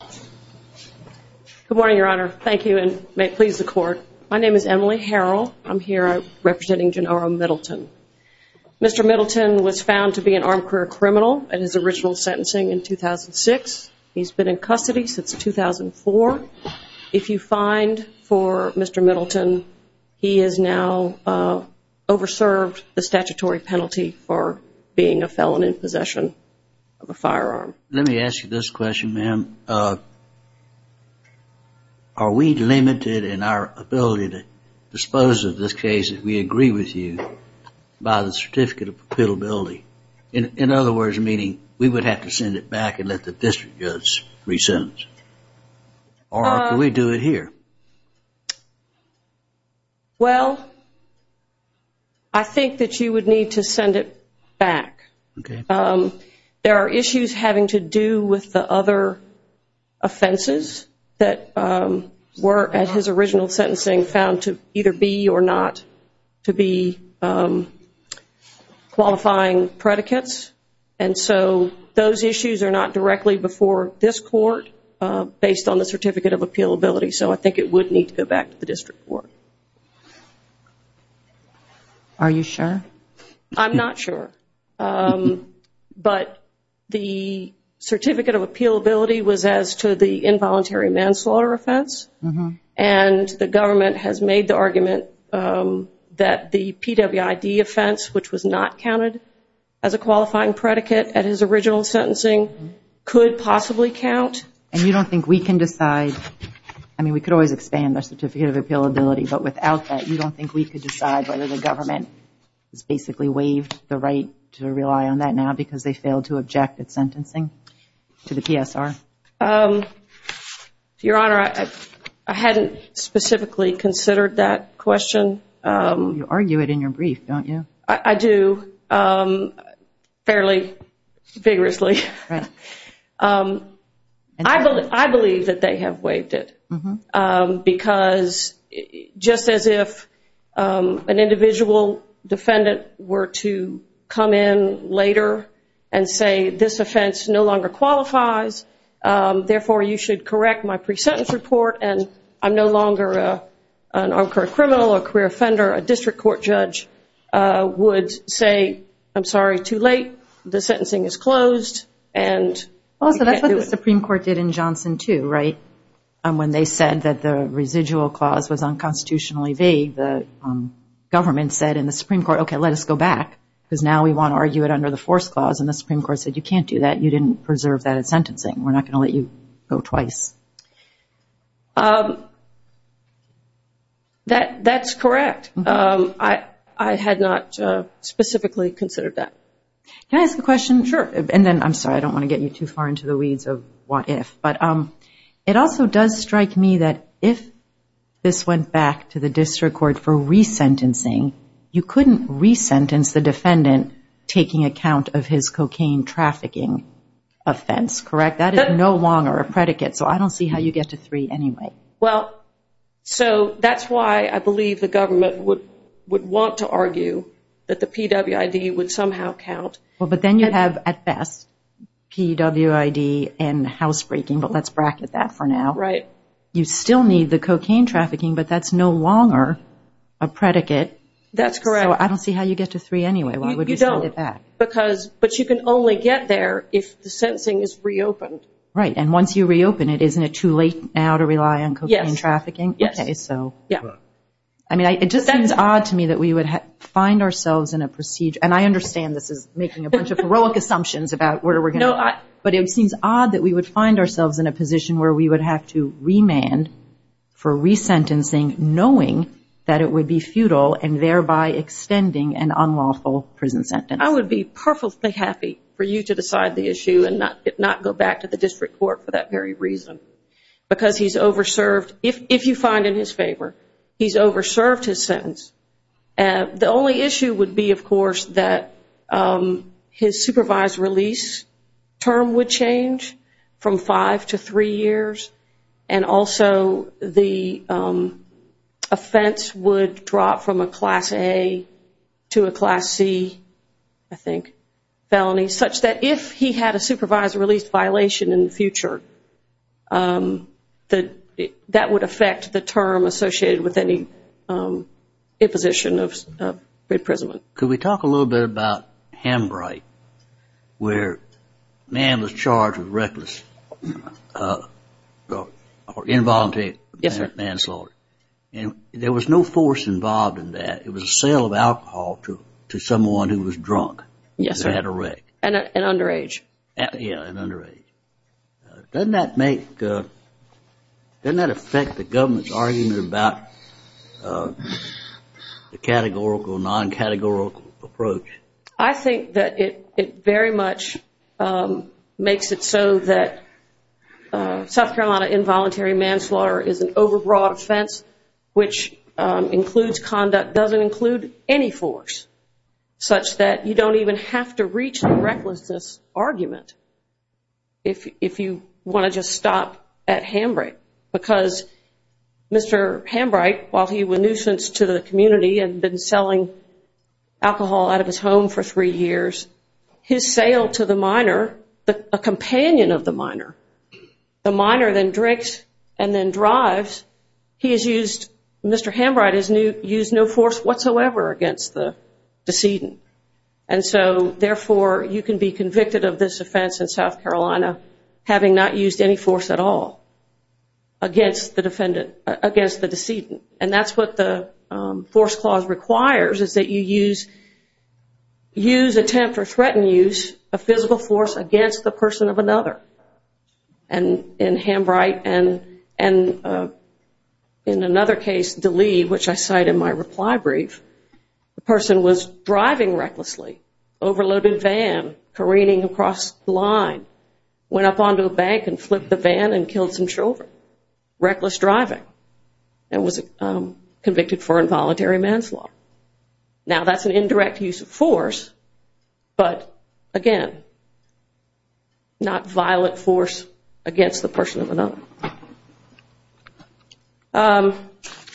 Good morning, Your Honor. Thank you, and may it please the Court. My name is Emily Harrell. I'm here representing Jarnaro Middleton. Mr. Middleton was found to be an armed career criminal at his original sentencing in 2006. He's been in custody since 2004. If you find for Mr. Middleton, he is now overserved the statutory penalty for being a felon in possession of a firearm. Let me ask you this question. Are we limited in our ability to dispose of this case, if we agree with you, by the certificate of perpetuability? In other words, meaning we would have to send it back and let the district judge re-sentence? Or can we do it here? Emily Harrell Well, I think that you would need to send it back. There are issues having to do with the other offenses that were, at his original sentencing, found to either be or not to be qualifying predicates. And so those issues are not directly before this Court, based on the certificate of appealability. So I think it would need to go back to the district court. Judge Goldberg Are you sure? Emily Harrell I'm not sure. But the certificate of appealability was as to the involuntary manslaughter offense. And the government has made the argument that the PWID offense, which was not counted as a qualifying predicate at his original sentencing, could possibly count. Judge Goldberg And you don't think we can decide? I mean, we could always expand the certificate of appealability. But without that, you don't think we could decide whether the government has basically waived the right to rely on that now because they failed to object at sentencing to the PSR? Emily Harrell Your Honor, I hadn't specifically considered that question. Judge Goldberg You argue it in your brief, don't you? Emily Harrell I do, fairly vigorously. I believe that they have waived it. Because just as if an individual defendant were to come in later and say, this offense no longer qualifies, therefore you should correct my pre-sentence report, and I'm no longer a criminal or a career offender, a district court judge would say, I'm sorry, too late. The sentencing is closed, and we can't do it. Judge Goldberg And that's what the Supreme Court did in Johnson, too, right? When they said that the residual clause was unconstitutionally vague, the government said in the Supreme Court, okay, let us go back because now we want to argue it under the force clause. And the Supreme Court said, you can't do that. You didn't preserve that at sentencing. We're not going to let you go twice. Emily Harrell That's correct. I had not specifically considered Judge Goldberg Can I ask a question? Emily Harrell Sure. Judge Goldberg And then, I'm sorry, I don't want to get you too far into the weeds of what if, but it also does strike me that if this went back to the district court for re-sentencing, you couldn't re-sentence the defendant taking account of his cocaine trafficking offense, correct? That is no longer a predicate, so I don't see how you get to three anyway. Emily Harrell Well, so that's why I believe the government would want to argue that the PWID would somehow count. Judge Goldberg But then you have, at best, PWID and housebreaking, but let's bracket that for now. You still need the cocaine trafficking, but that's no longer a predicate. Emily Harrell That's correct. Judge Goldberg So I don't see how you get to three anyway. Why would you send it back? Emily Harrell You don't, but you can only get there if the sentencing is re-opened. Judge Goldberg Right. And once you re-open it, isn't it too late now to rely on cocaine trafficking? Emily Harrell Yes. Judge Goldberg Okay, so. Emily Harrell Yeah. Judge Goldberg It just seems odd to me that we would find ourselves in a procedure, and I understand this is making a bunch of heroic assumptions about where we're going to go, but it seems odd that we would find ourselves in a position where we would have to remand for re-sentencing, knowing that it would be futile and thereby extending an unlawful prison sentence. Emily Harrell I would be perfectly happy for you to decide the issue and not go back to the district court for that very reason, because he's over-served. If you find in his favor, he's over-served his sentence. The only issue would be, of course, that his supervised release term would change from five to three years, and also the offense would drop from a Class A to a Class C, I think that that would affect the term associated with any imposition of imprisonment. Judge Goldberg Could we talk a little bit about Hambright, where a man was charged with reckless or involuntary manslaughter. Emily Harrell Yes, sir. Judge Goldberg And there was no force involved in that. It was a sale of alcohol to someone who was drunk. Emily Harrell Yes, sir. Judge Goldberg And had a rec. Emily Harrell An underage. Judge Goldberg Yeah, an underage. Doesn't that affect the government's argument about the categorical, non-categorical approach? Emily Harrell I think that it very much makes it so that South Carolina involuntary manslaughter is an over-broad offense, which includes conduct that doesn't include any force, such that you don't even have to reach the recklessness argument if you want to just stop at Hambright. Because Mr. Hambright, while he was a nuisance to the community and had been selling alcohol out of his home for three years, his sale to the minor, a companion of the minor, the defendant, had no force whatsoever against the decedent. And so, therefore, you can be convicted of this offense in South Carolina having not used any force at all against the defendant, against the decedent. And that's what the force clause requires, is that you use, use, attempt, or threaten And in Hambright, and in another case, DeLee, which I cite in my reply brief, the person was driving recklessly, overloaded van, careening across the line, went up onto a bank and flipped the van and killed some children. Reckless driving, and was convicted for involuntary manslaughter. Now, that's an indirect use of force, but again, not violent force against the person of another.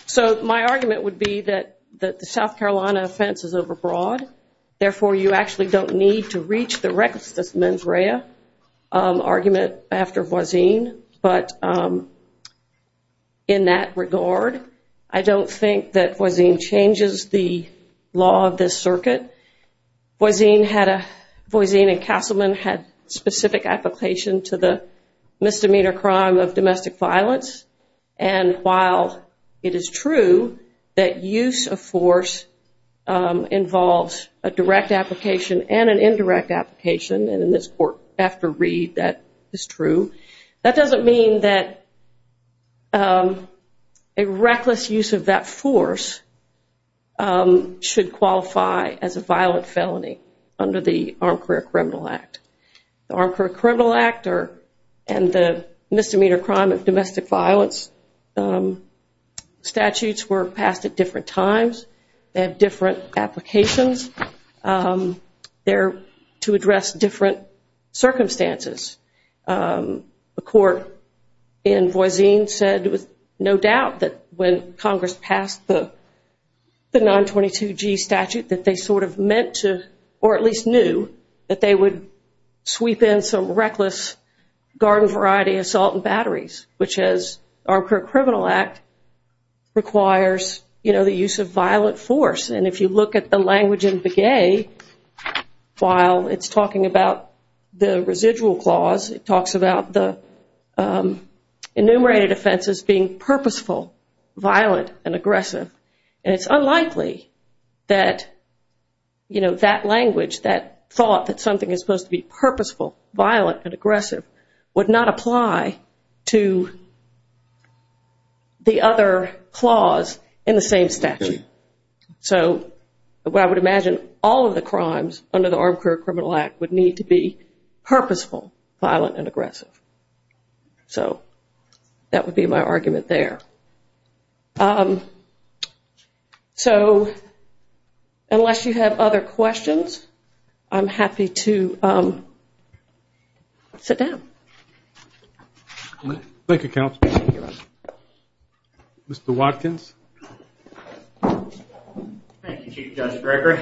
So my argument would be that the South Carolina offense is overbroad, therefore, you actually don't need to reach the recklessness mens rea argument after Voisine, but in that regard, I don't think that Voisine changes the law of this circuit. Voisine and Castleman had specific application to the misdemeanor crime of domestic violence, and while it is true that use of force involves a direct application and an indirect application, and in this court, after Reed, that is true, that doesn't mean that a reckless use of that force should qualify as a violent felony under the Armed Career Criminal Act. The Armed Career Criminal Act and the misdemeanor crime of domestic violence statutes were passed at different times, they have different applications. They're to address different circumstances. A court in Voisine said with no doubt that when Congress passed the 922G statute that they sort of meant to, or at least knew, that they would sweep in some reckless garden variety assault and batteries, which as Armed Career Criminal Act requires, you know, the use of force. In Begay, while it's talking about the residual clause, it talks about the enumerated offenses being purposeful, violent, and aggressive, and it's unlikely that, you know, that language, that thought that something is supposed to be purposeful, violent, and aggressive would not apply to the other clause in the same statute. So, what I would imagine, all of the crimes under the Armed Career Criminal Act would need to be purposeful, violent, and aggressive. So that would be my argument there. So unless you have other questions, I'm happy to sit down. Thank you, Counsel. Mr. Watkins. Thank you, Chief Judge Bricker.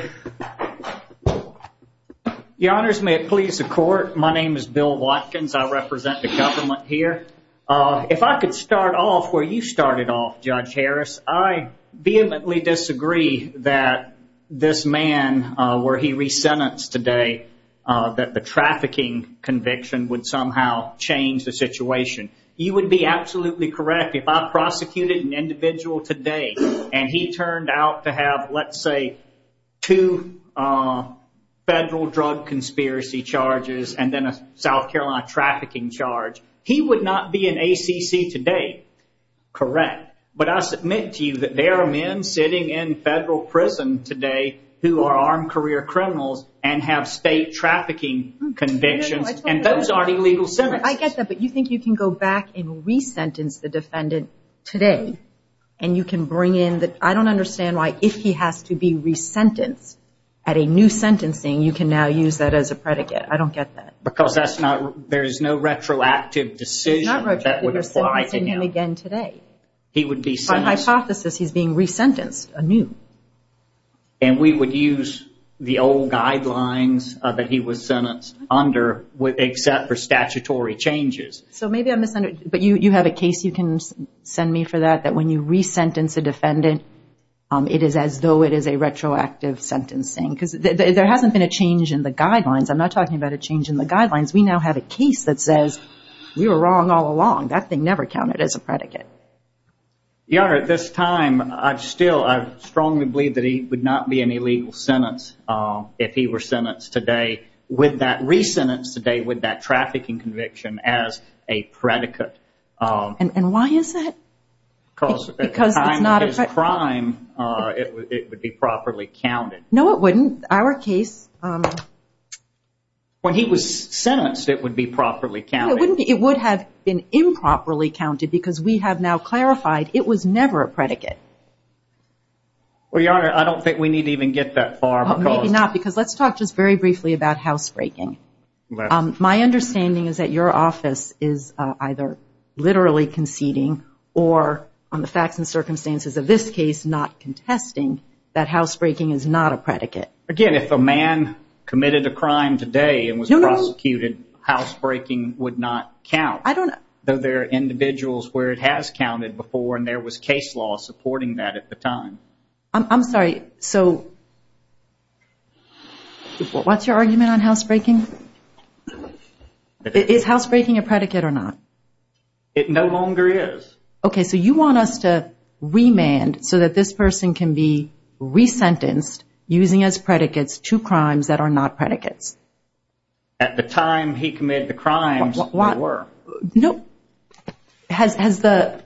Your Honors, may it please the Court, my name is Bill Watkins. I represent the government here. If I could start off where you started off, Judge Harris, I vehemently disagree that this man, where he resentenced today, that the trafficking conviction would somehow change the situation. You would be absolutely correct if I prosecuted an individual today and he turned out to have, let's say, two federal drug conspiracy charges and then a South Carolina trafficking charge. He would not be in ACC today. Correct. But I submit to you that there are men sitting in federal prison today who are armed career criminals and have state trafficking convictions, and those are illegal sentences. I get that, but you think you can go back and resentence the defendant today, and you can bring in the, I don't understand why, if he has to be resentenced at a new sentencing, you can now use that as a predicate. I don't get that. Because that's not, there is no retroactive decision that would apply to him. He's not retroactive. You're sentencing him again today. He would be sentenced. By hypothesis, he's being resentenced anew. And we would use the old guidelines that he was sentenced under except for statutory changes. So maybe I misunderstood, but you have a case you can send me for that, that when you resentence a defendant, it is as though it is a retroactive sentencing. Because there hasn't been a change in the guidelines. I'm not talking about a change in the guidelines. We now have a case that says, we were wrong all along. That thing never counted as a predicate. Your Honor, at this time, I still, I strongly believe that he would not be in a legal sentence if he were sentenced today, resentenced today with that trafficking conviction as a predicate. And why is that? Because at the time of his crime, it would be properly counted. No, it wouldn't. Our case... When he was sentenced, it would be properly counted. It would have been improperly counted because we have now clarified it was never a predicate. Well, Your Honor, I don't think we need to even get that far. Maybe not, because let's talk just very briefly about housebreaking. My understanding is that your office is either literally conceding or, on the facts and circumstances of this case, not contesting that housebreaking is not a predicate. Again, if a man committed a crime today and was prosecuted, housebreaking would not count. I don't... Though there are individuals where it has counted before and there was case law supporting that at the time. I'm sorry, so... What's your argument on housebreaking? Is housebreaking a predicate or not? It no longer is. Okay, so you want us to remand so that this person can be resentenced, using as predicates two crimes that are not predicates. At the time he committed the crimes, they were. No. Has the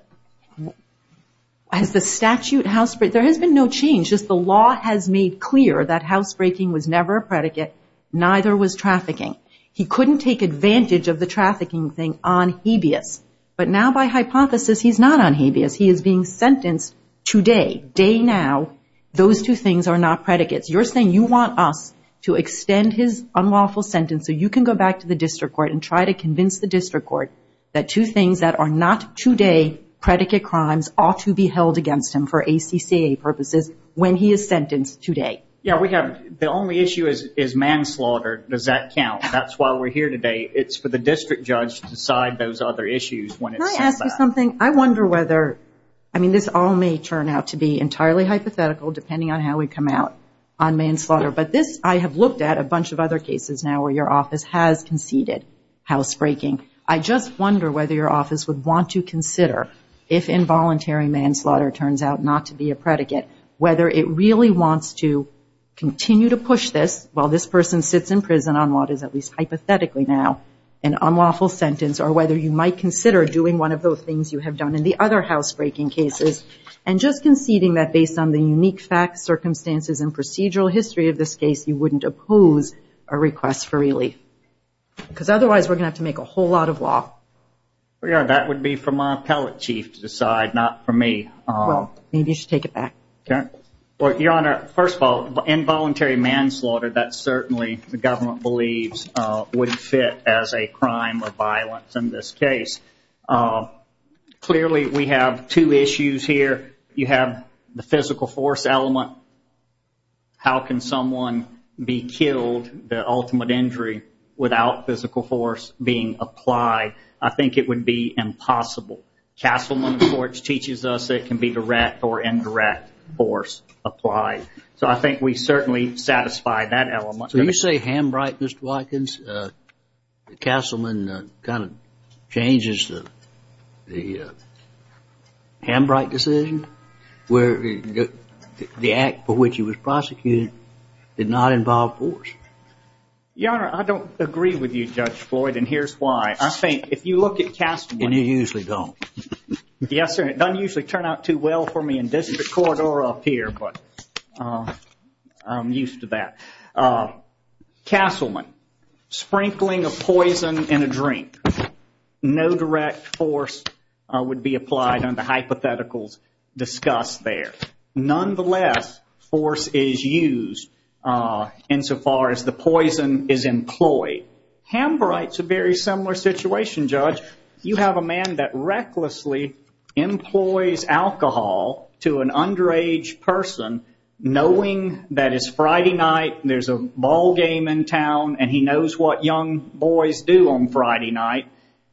statute... There has been no change. Just the law has made clear that housebreaking was never a predicate. Neither was trafficking. He couldn't take advantage of the trafficking thing on habeas. But now, by hypothesis, he's not on habeas. He is being sentenced today, day now. Those two things are not predicates. You're saying you want us to extend his unlawful sentence so you can go back to the district court and try to convince the district court that two things that are not two-day predicate crimes ought to be held against him for ACCA purposes when he is sentenced today. Yeah, we have... The only issue is manslaughter. Does that count? That's why we're here today. It's for the district judge to decide those other issues when it comes back. Can I ask you something? I wonder whether... I mean, this all may turn out to be entirely hypothetical depending on how we come out on manslaughter. But this, I have looked at a bunch of other cases now where your office has conceded housebreaking. I just wonder whether your office would want to consider, if involuntary manslaughter turns out not to be a predicate, whether it really wants to continue to push this while this person sits in prison on what is, at least hypothetically now, an unlawful sentence, or whether you might consider doing one of those things you have done in the other housebreaking cases and just conceding that based on the unique facts, circumstances, and procedural history of this case, you wouldn't oppose a request for relief. Because otherwise we're going to have to make a whole lot of law. Well, Your Honor, that would be for my appellate chief to decide, not for me. Well, maybe you should take it back. Well, Your Honor, first of all, involuntary manslaughter, that certainly the government believes would fit as a crime or violence in this case. Clearly we have two issues here. You have the physical force element. How can someone be killed, the ultimate injury, without physical force being applied? I think it would be impossible. Castleman, of course, teaches us it can be direct or indirect force applied. So I think we certainly satisfy that element. So you say Hambright, Mr. Watkins, Castleman kind of changes the Hambright decision where the act for which he was prosecuted did not involve force? Your Honor, I don't agree with you, Judge Floyd, and here's why. I think if you look at Castleman. And you usually don't. Yes, sir, it doesn't usually turn out too well for me in district court or up here, but I'm used to that. Castleman, sprinkling of poison in a drink. No direct force would be applied under hypotheticals discussed there. Nonetheless, force is used insofar as the poison is employed. Hambright's a very similar situation, Judge. You have a man that recklessly employs alcohol to an underage person, knowing that it's Friday night, there's a ball game in town, and he knows what young boys do on Friday night.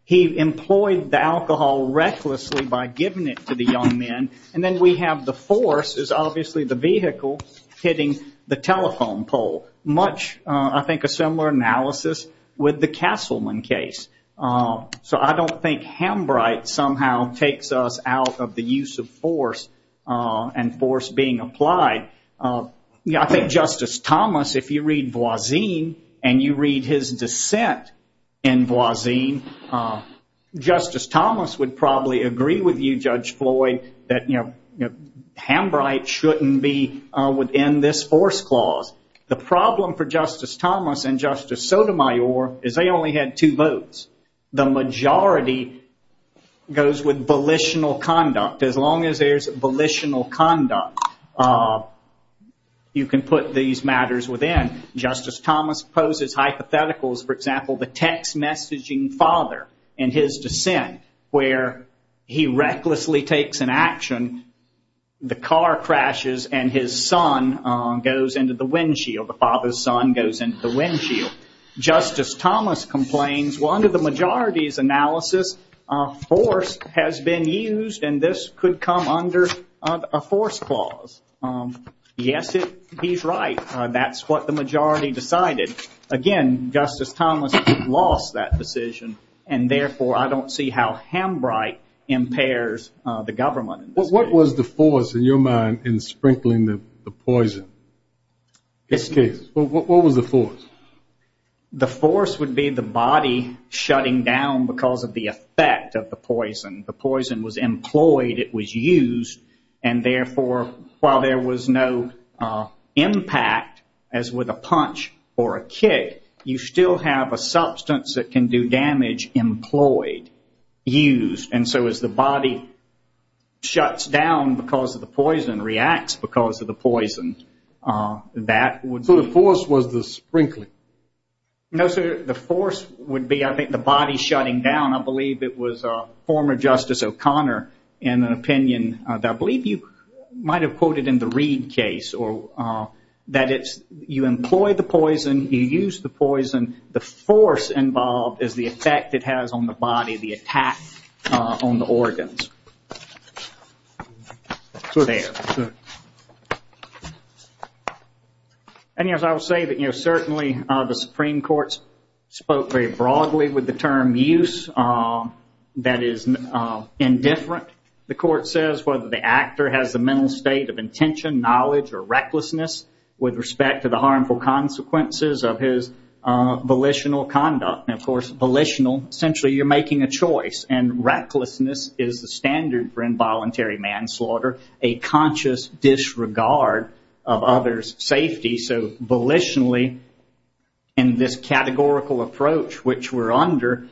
He employed the alcohol recklessly by giving it to the young men. And then we have the force is obviously the vehicle hitting the telephone pole. Much, I think, a similar analysis with the Castleman case. So I don't think Hambright somehow takes us out of the use of force and force being applied. I think Justice Thomas, if you read Voisin and you read his dissent in Voisin, Justice Thomas would probably agree with you, Judge Floyd, that Hambright shouldn't be within this force clause. The problem for Justice Thomas and Justice Sotomayor is they only had two votes. The majority goes with volitional conduct. As long as there's volitional conduct, you can put these matters within. Justice Thomas poses hypotheticals, for example, the text messaging father in his dissent where he recklessly takes an action, the car crashes, and his son goes into the windshield. The father's son goes into the windshield. Justice Thomas complains, well, under the majority's analysis, force has been used, and this could come under a force clause. Yes, he's right. That's what the majority decided. Again, Justice Thomas lost that decision, and, therefore, I don't see how Hambright impairs the government. What was the force in your mind in sprinkling the poison? In this case, what was the force? The force would be the body shutting down because of the effect of the poison. The poison was employed. It was used, and, therefore, while there was no impact as with a punch or a kick, you still have a substance that can do damage employed, used, and so as the body shuts down because of the poison, reacts because of the poison. So the force was the sprinkling? No, sir. The force would be, I think, the body shutting down. I believe it was former Justice O'Connor in an opinion that I believe you might have quoted in the Reid case that you employ the poison, you use the poison, the force involved is the effect it has on the body, the attack on the organs. And, yes, I will say that, you know, certainly the Supreme Court spoke very broadly with the term use that is indifferent. The court says whether the actor has the mental state of intention, knowledge, or recklessness with respect to the harmful consequences of his volitional conduct. And, of course, volitional, essentially you're making a choice, and recklessness is the standard for involuntary manslaughter, a conscious disregard of others' safety. So volitionally, in this categorical approach which we're under,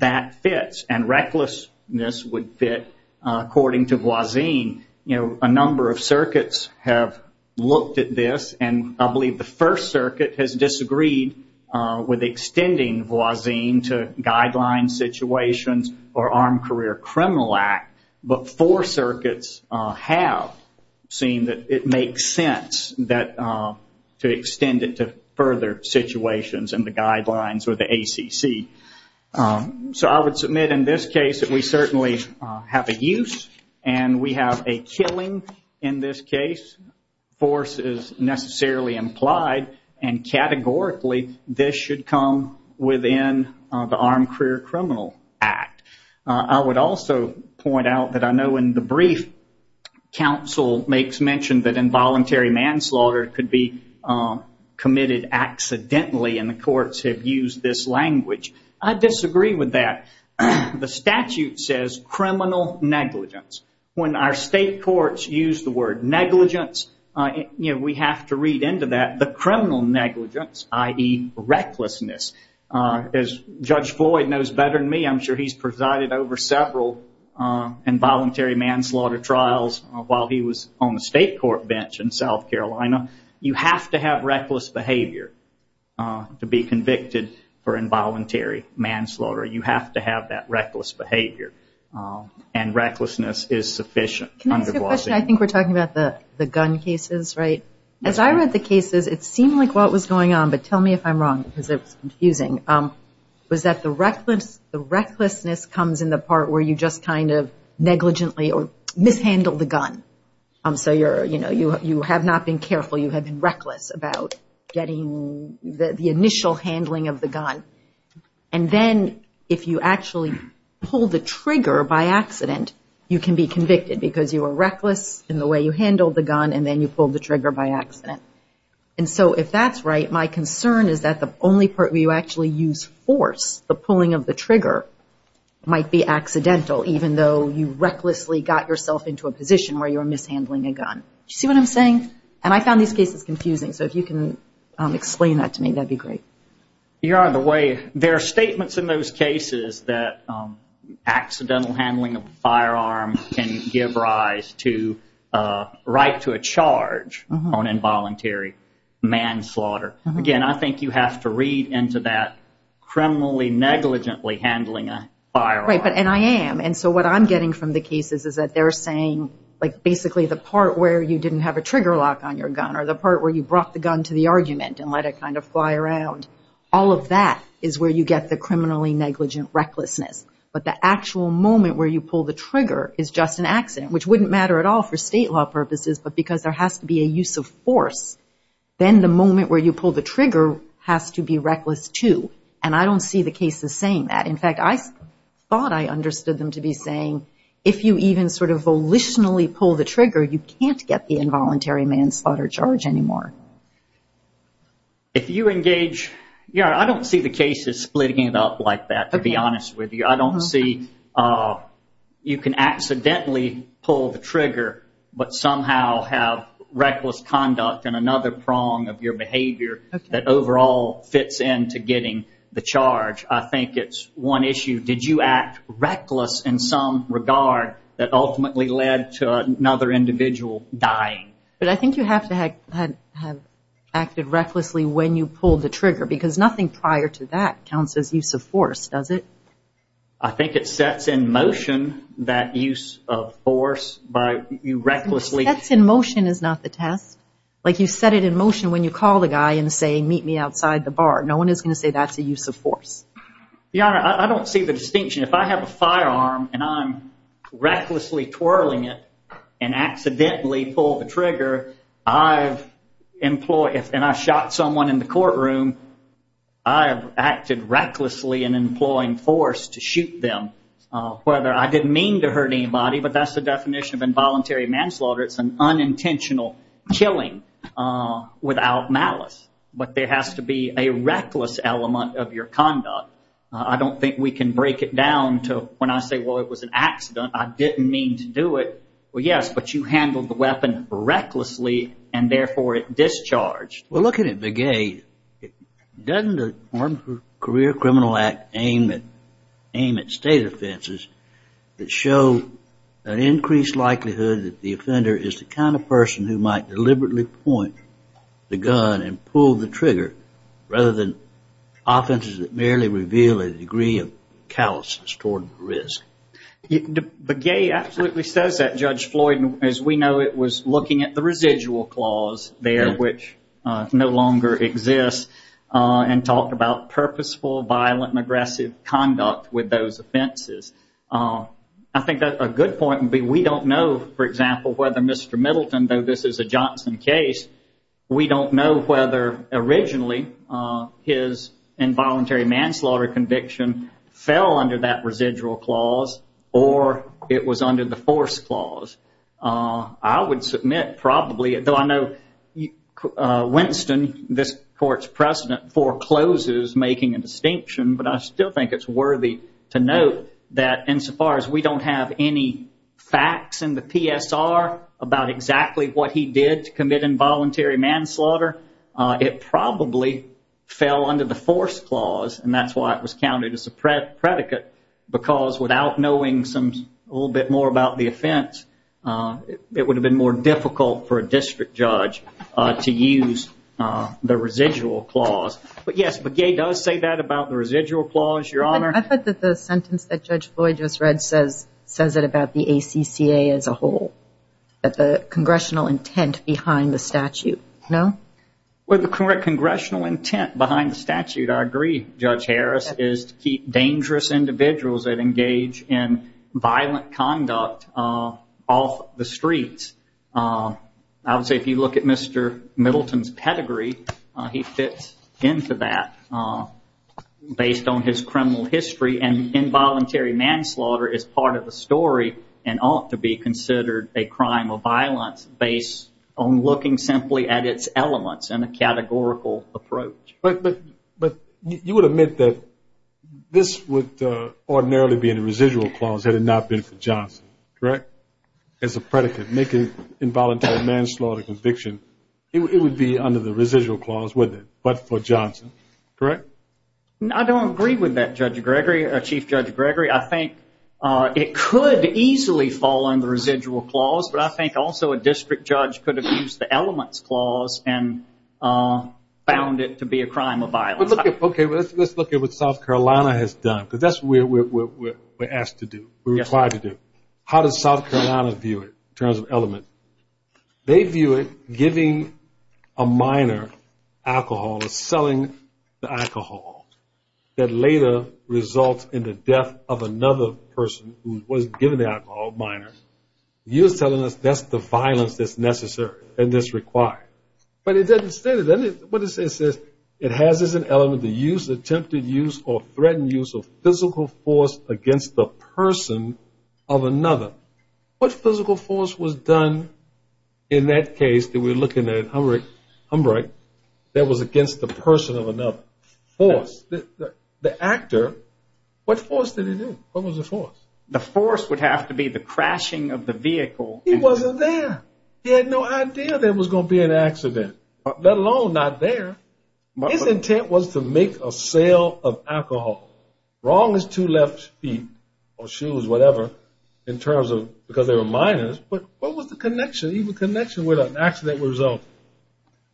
that fits. And recklessness would fit according to Voisin. You know, a number of circuits have looked at this, and I believe the First Circuit has disagreed with extending Voisin to guideline situations or Armed Career Criminal Act. But four circuits have seen that it makes sense to extend it to further situations in the guidelines or the ACC. So I would submit in this case that we certainly have a use, and we have a killing in this case. Force is necessarily implied, and categorically this should come within the Armed Career Criminal Act. I would also point out that I know in the brief, counsel makes mention that involuntary manslaughter could be committed accidentally, and the courts have used this language. I disagree with that. The statute says criminal negligence. When our state courts use the word negligence, we have to read into that the criminal negligence, i.e. recklessness. As Judge Floyd knows better than me, I'm sure he's presided over several involuntary manslaughter trials while he was on the state court bench in South Carolina. You have to have reckless behavior to be convicted for involuntary manslaughter. You have to have that reckless behavior, and recklessness is sufficient under Voisin. Can I ask a question? I think we're talking about the gun cases, right? As I read the cases, it seemed like what was going on, but tell me if I'm wrong because it's confusing, was that the recklessness comes in the part where you just kind of negligently or mishandle the gun. So you have not been careful. You have been reckless about getting the initial handling of the gun. And then if you actually pull the trigger by accident, you can be convicted because you were reckless in the way you handled the gun, and then you pulled the trigger by accident. And so if that's right, my concern is that the only part where you actually use force, the pulling of the trigger, might be accidental, even though you recklessly got yourself into a position where you were mishandling a gun. Do you see what I'm saying? And I found these cases confusing, so if you can explain that to me, that would be great. You're on the way. There are statements in those cases that accidental handling of a firearm can give rise to right to a charge on involuntary manslaughter. Again, I think you have to read into that criminally negligently handling a firearm. Right, and I am. And so what I'm getting from the cases is that they're saying, like, basically the part where you didn't have a trigger lock on your gun or the part where you brought the gun to the argument and let it kind of fly around, all of that is where you get the criminally negligent recklessness. But the actual moment where you pull the trigger is just an accident, which wouldn't matter at all for state law purposes, but because there has to be a use of force. Then the moment where you pull the trigger has to be reckless, too. And I don't see the cases saying that. In fact, I thought I understood them to be saying if you even sort of volitionally pull the trigger, you can't get the involuntary manslaughter charge anymore. If you engage, you know, I don't see the cases splitting it up like that, to be honest with you. I don't see you can accidentally pull the trigger but somehow have reckless conduct in another prong of your behavior that overall fits into getting the charge. I think it's one issue. Did you act reckless in some regard that ultimately led to another individual dying? But I think you have to have acted recklessly when you pulled the trigger because nothing prior to that counts as use of force, does it? I think it sets in motion that use of force by you recklessly. Sets in motion is not the test. Like you set it in motion when you call the guy and say, meet me outside the bar. No one is going to say that's a use of force. Your Honor, I don't see the distinction. If I have a firearm and I'm recklessly twirling it and accidentally pull the trigger, and I shot someone in the courtroom, I have acted recklessly in employing force to shoot them. Whether I didn't mean to hurt anybody, but that's the definition of involuntary manslaughter. It's an unintentional killing without malice. But there has to be a reckless element of your conduct. I don't think we can break it down to when I say, well, it was an accident. I didn't mean to do it. Well, yes, but you handled the weapon recklessly and therefore it discharged. Well, looking at Begay, doesn't the Armed Career Criminal Act aim at state offenses that show an increased likelihood that the offender is the kind of person who might deliberately point the gun and pull the trigger rather than offenses that merely reveal a degree of callousness toward risk? Begay absolutely says that, Judge Floyd. As we know, it was looking at the residual clause there, which no longer exists, and talked about purposeful, violent, and aggressive conduct with those offenses. I think a good point would be we don't know, for example, whether Mr. Middleton, though this is a Johnson case, we don't know whether originally his involuntary manslaughter conviction fell under that residual clause or it was under the force clause. I would submit probably, though I know Winston, this court's president, forecloses making a distinction, but I still think it's worthy to note that insofar as we don't have any facts in the PSR about exactly what he did to commit involuntary manslaughter, it probably fell under the force clause, and that's why it was counted as a predicate, because without knowing a little bit more about the offense, it would have been more difficult for a district judge to use the residual clause. But yes, Begay does say that about the residual clause, Your Honor. I thought that the sentence that Judge Floyd just read says it about the ACCA as a whole, that the congressional intent behind the statute, no? Well, the congressional intent behind the statute, I agree, Judge Harris, is to keep dangerous individuals that engage in violent conduct off the streets. I would say if you look at Mr. Middleton's pedigree, he fits into that based on his criminal history, and involuntary manslaughter is part of the story and ought to be considered a crime of violence based on looking simply at its elements in a categorical approach. But you would admit that this would ordinarily be in the residual clause had it not been for Johnson, correct? As a predicate, make an involuntary manslaughter conviction, it would be under the residual clause, wouldn't it? But for Johnson, correct? I don't agree with that, Judge Gregory, Chief Judge Gregory. I think it could easily fall under the residual clause, but I think also a district judge could have used the elements clause and found it to be a crime of violence. Okay, let's look at what South Carolina has done, because that's what we're asked to do, we're required to do. How does South Carolina view it in terms of elements? They view it giving a minor alcohol or selling the alcohol that later results in the death of another person who was given the alcohol, minor. You're telling us that's the violence that's necessary and that's required. But it doesn't state it, does it? What it says is it has as an element the use, attempted use, or threatened use of physical force against the person of another. What physical force was done in that case that we're looking at, Humbert, that was against the person of another? Force. The actor, what force did he use? What was the force? The force would have to be the crashing of the vehicle. He wasn't there. He had no idea there was going to be an accident, let alone not there. His intent was to make a sale of alcohol, wrong as two left feet or shoes, whatever, because they were minors. But what was the connection, even connection, with an accident result?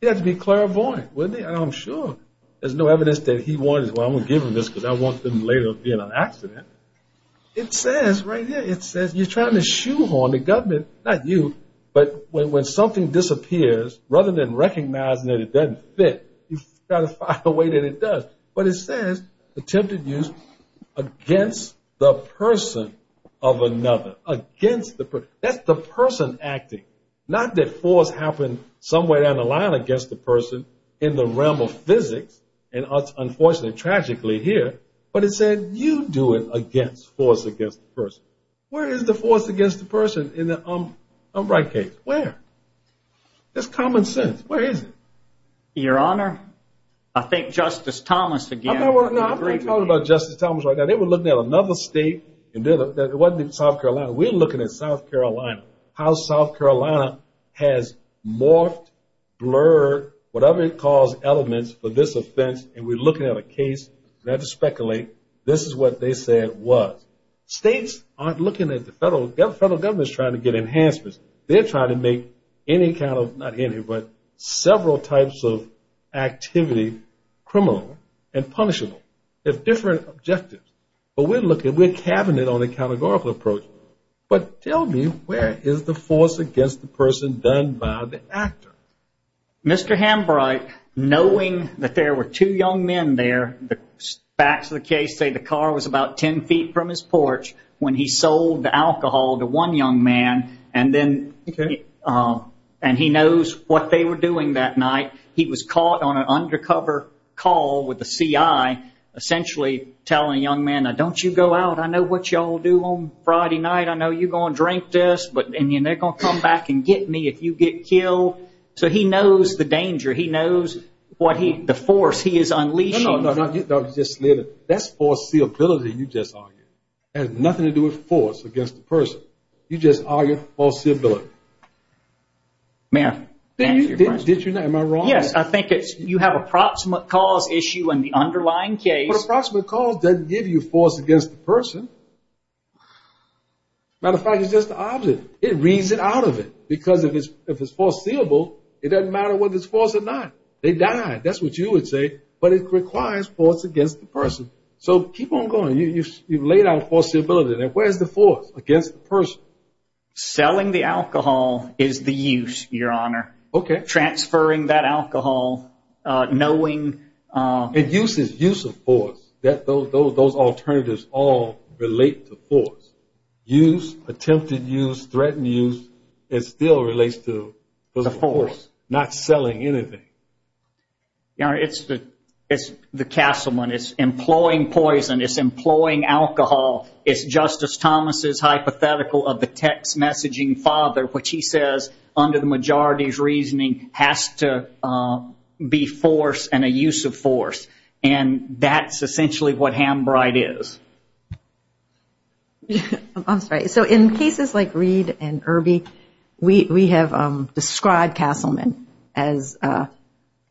It had to be clairvoyant, wouldn't it? I'm sure there's no evidence that he wanted, well, I'm going to give him this because I don't want him later to be in an accident. It says right here, it says you're trying to shoehorn the government, not you, but when something disappears, rather than recognizing that it doesn't fit, you've got to find a way that it does. But it says attempted use against the person of another, against the person. That's the person acting, not that force happened somewhere down the line against the person in the realm of physics, and unfortunately, tragically here, but it said you do it against, force against the person. Where is the force against the person in the Humbert case? Where? That's common sense. Where is it? Your Honor, I think Justice Thomas again. No, I'm not talking about Justice Thomas right now. They were looking at another state. It wasn't South Carolina. We're looking at South Carolina, how South Carolina has morphed, blurred, whatever it calls, elements for this offense, and we're looking at a case. We don't have to speculate. This is what they said it was. States aren't looking at the federal government. The federal government is trying to get enhancements. They're trying to make any kind of, not any, but several types of activity criminal and punishable. They have different objectives. But we're looking, we're cabinet on a categorical approach. But tell me, where is the force against the person done by the actor? Mr. Humbert, knowing that there were two young men there, the facts of the case say the car was about 10 feet from his porch when he sold the alcohol to one young man, and he knows what they were doing that night. He was caught on an undercover call with the CI, essentially telling the young man, now don't you go out. I know what you all do on Friday night. I know you're going to drink this, and they're going to come back and get me if you get killed. So he knows the danger. He knows the force he is unleashing. No, no, no. That's foreseeability you just argued. It has nothing to do with force against the person. You just argued foreseeability. Ma'am. Did you not? Am I wrong? Yes. I think you have a proximate cause issue in the underlying case. Well, approximate cause doesn't give you force against the person. Matter of fact, it's just the object. It reads it out of it because if it's foreseeable, it doesn't matter whether it's force or not. They died. That's what you would say. But it requires force against the person. So keep on going. You've laid out foreseeability. Where's the force against the person? Selling the alcohol is the use, Your Honor. Okay. Transferring that alcohol, knowing. Use is use of force. Those alternatives all relate to force. Use, attempted use, threatened use, it still relates to the force, not selling anything. It's the castleman. It's employing poison. It's employing alcohol. It's Justice Thomas' hypothetical of the text messaging father, which he says, under the majority's reasoning, has to be force and a use of force. And that's essentially what Hambride is. I'm sorry. So in cases like Reed and Irby, we have described castleman as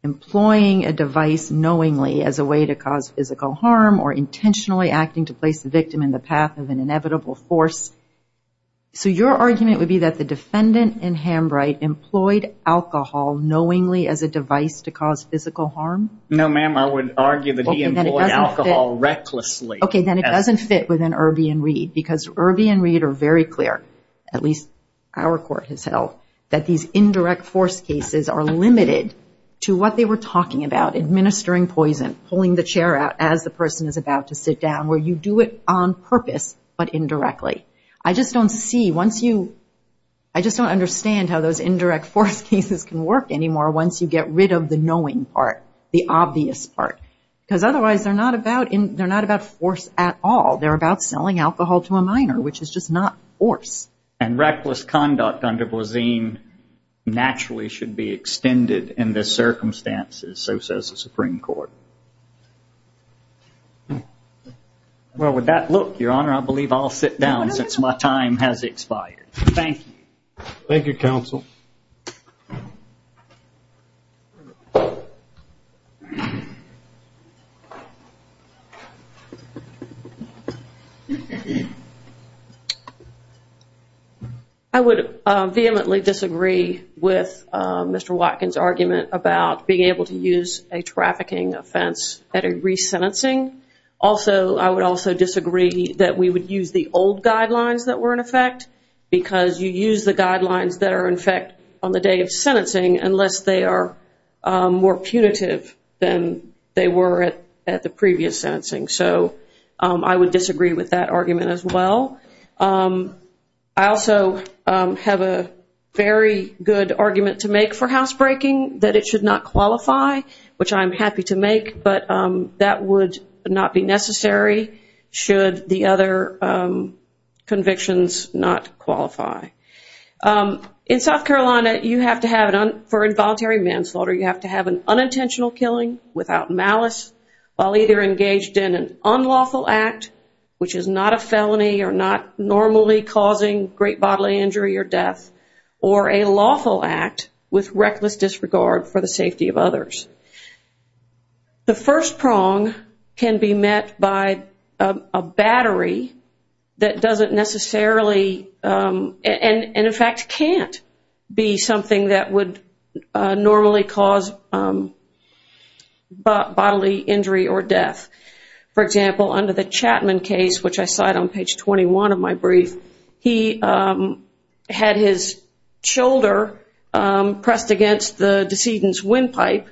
employing a device knowingly as a way to cause physical harm, intentionally acting to place the victim in the path of an inevitable force. So your argument would be that the defendant in Hambride employed alcohol knowingly as a device to cause physical harm? No, ma'am. I would argue that he employed alcohol recklessly. Okay. Then it doesn't fit within Irby and Reed because Irby and Reed are very clear, at least our court has held, that these indirect force cases are limited to what they were talking about, administering poison, pulling the chair out as the person is about to sit down, where you do it on purpose but indirectly. I just don't see, once you, I just don't understand how those indirect force cases can work anymore once you get rid of the knowing part, the obvious part. Because otherwise they're not about force at all. They're about selling alcohol to a minor, which is just not force. And reckless conduct under Boisine naturally should be extended in this circumstance, so says the Supreme Court. Well, with that look, Your Honor, I believe I'll sit down since my time has expired. Thank you. Thank you, counsel. I would vehemently disagree with Mr. Watkins' argument about being able to use a trafficking offense at a resentencing. Also, I would also disagree that we would use the old guidelines that were in effect because you use the guidelines that are in effect on the day of sentencing unless they are more punitive than they were at the previous sentencing. So I would disagree with that argument as well. I also have a very good argument to make for housebreaking, that it should not qualify, which I'm happy to make, but that would not be necessary should the other convictions not qualify. In South Carolina, you have to have, for involuntary manslaughter, you have to have an unintentional killing without malice while either engaged in an unlawful act, which is not a felony or not normally causing great bodily injury or death, or a lawful act with reckless disregard for the safety of others. The first prong can be met by a battery that doesn't necessarily, and in fact can't, be something that would normally cause bodily injury or death. For example, under the Chapman case, which I cite on page 21 of my brief, he had his shoulder pressed against the decedent's windpipe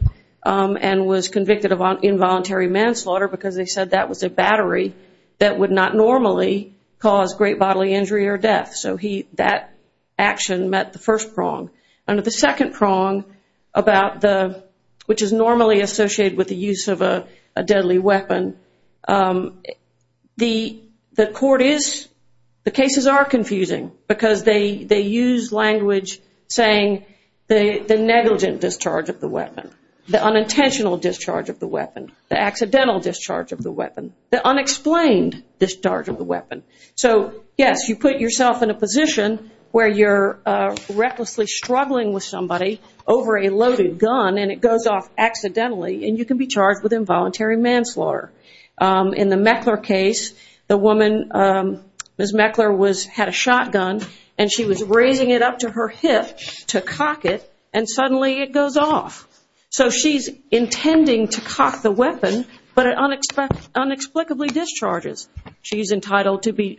and was convicted of involuntary manslaughter because they said that was a battery that would not normally cause great bodily injury or death. So that action met the first prong. Under the second prong, which is normally associated with the use of a deadly weapon, the court is, the cases are confusing because they use language saying the negligent discharge of the weapon, the unintentional discharge of the weapon, the accidental discharge of the weapon, the unexplained discharge of the weapon. So, yes, you put yourself in a position where you're recklessly struggling with somebody over a loaded gun and it goes off accidentally and you can be charged with involuntary manslaughter. In the Meckler case, the woman, Ms. Meckler, had a shotgun and she was raising it up to her hip to cock it, and suddenly it goes off. So she's intending to cock the weapon, but it unexplicably discharges. She's entitled to be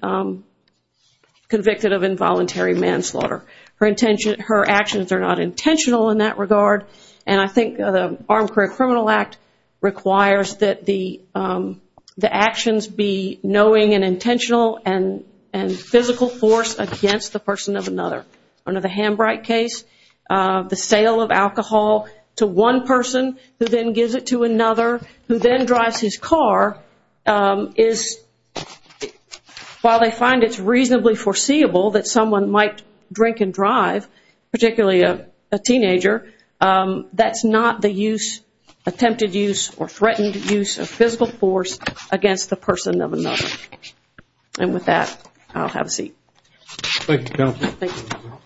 convicted of involuntary manslaughter. Her actions are not intentional in that regard, and I think the Armed Career Criminal Act requires that the actions be knowing and intentional and physical force against the person of another. Under the Hambright case, the sale of alcohol to one person who then gives it to another, who then drives his car is, while they find it's reasonably foreseeable that someone might drink and drive, particularly a teenager, that's not the use, attempted use or threatened use of physical force against the person of another. And with that, I'll have a seat. Thank you, Counselor. Thank you.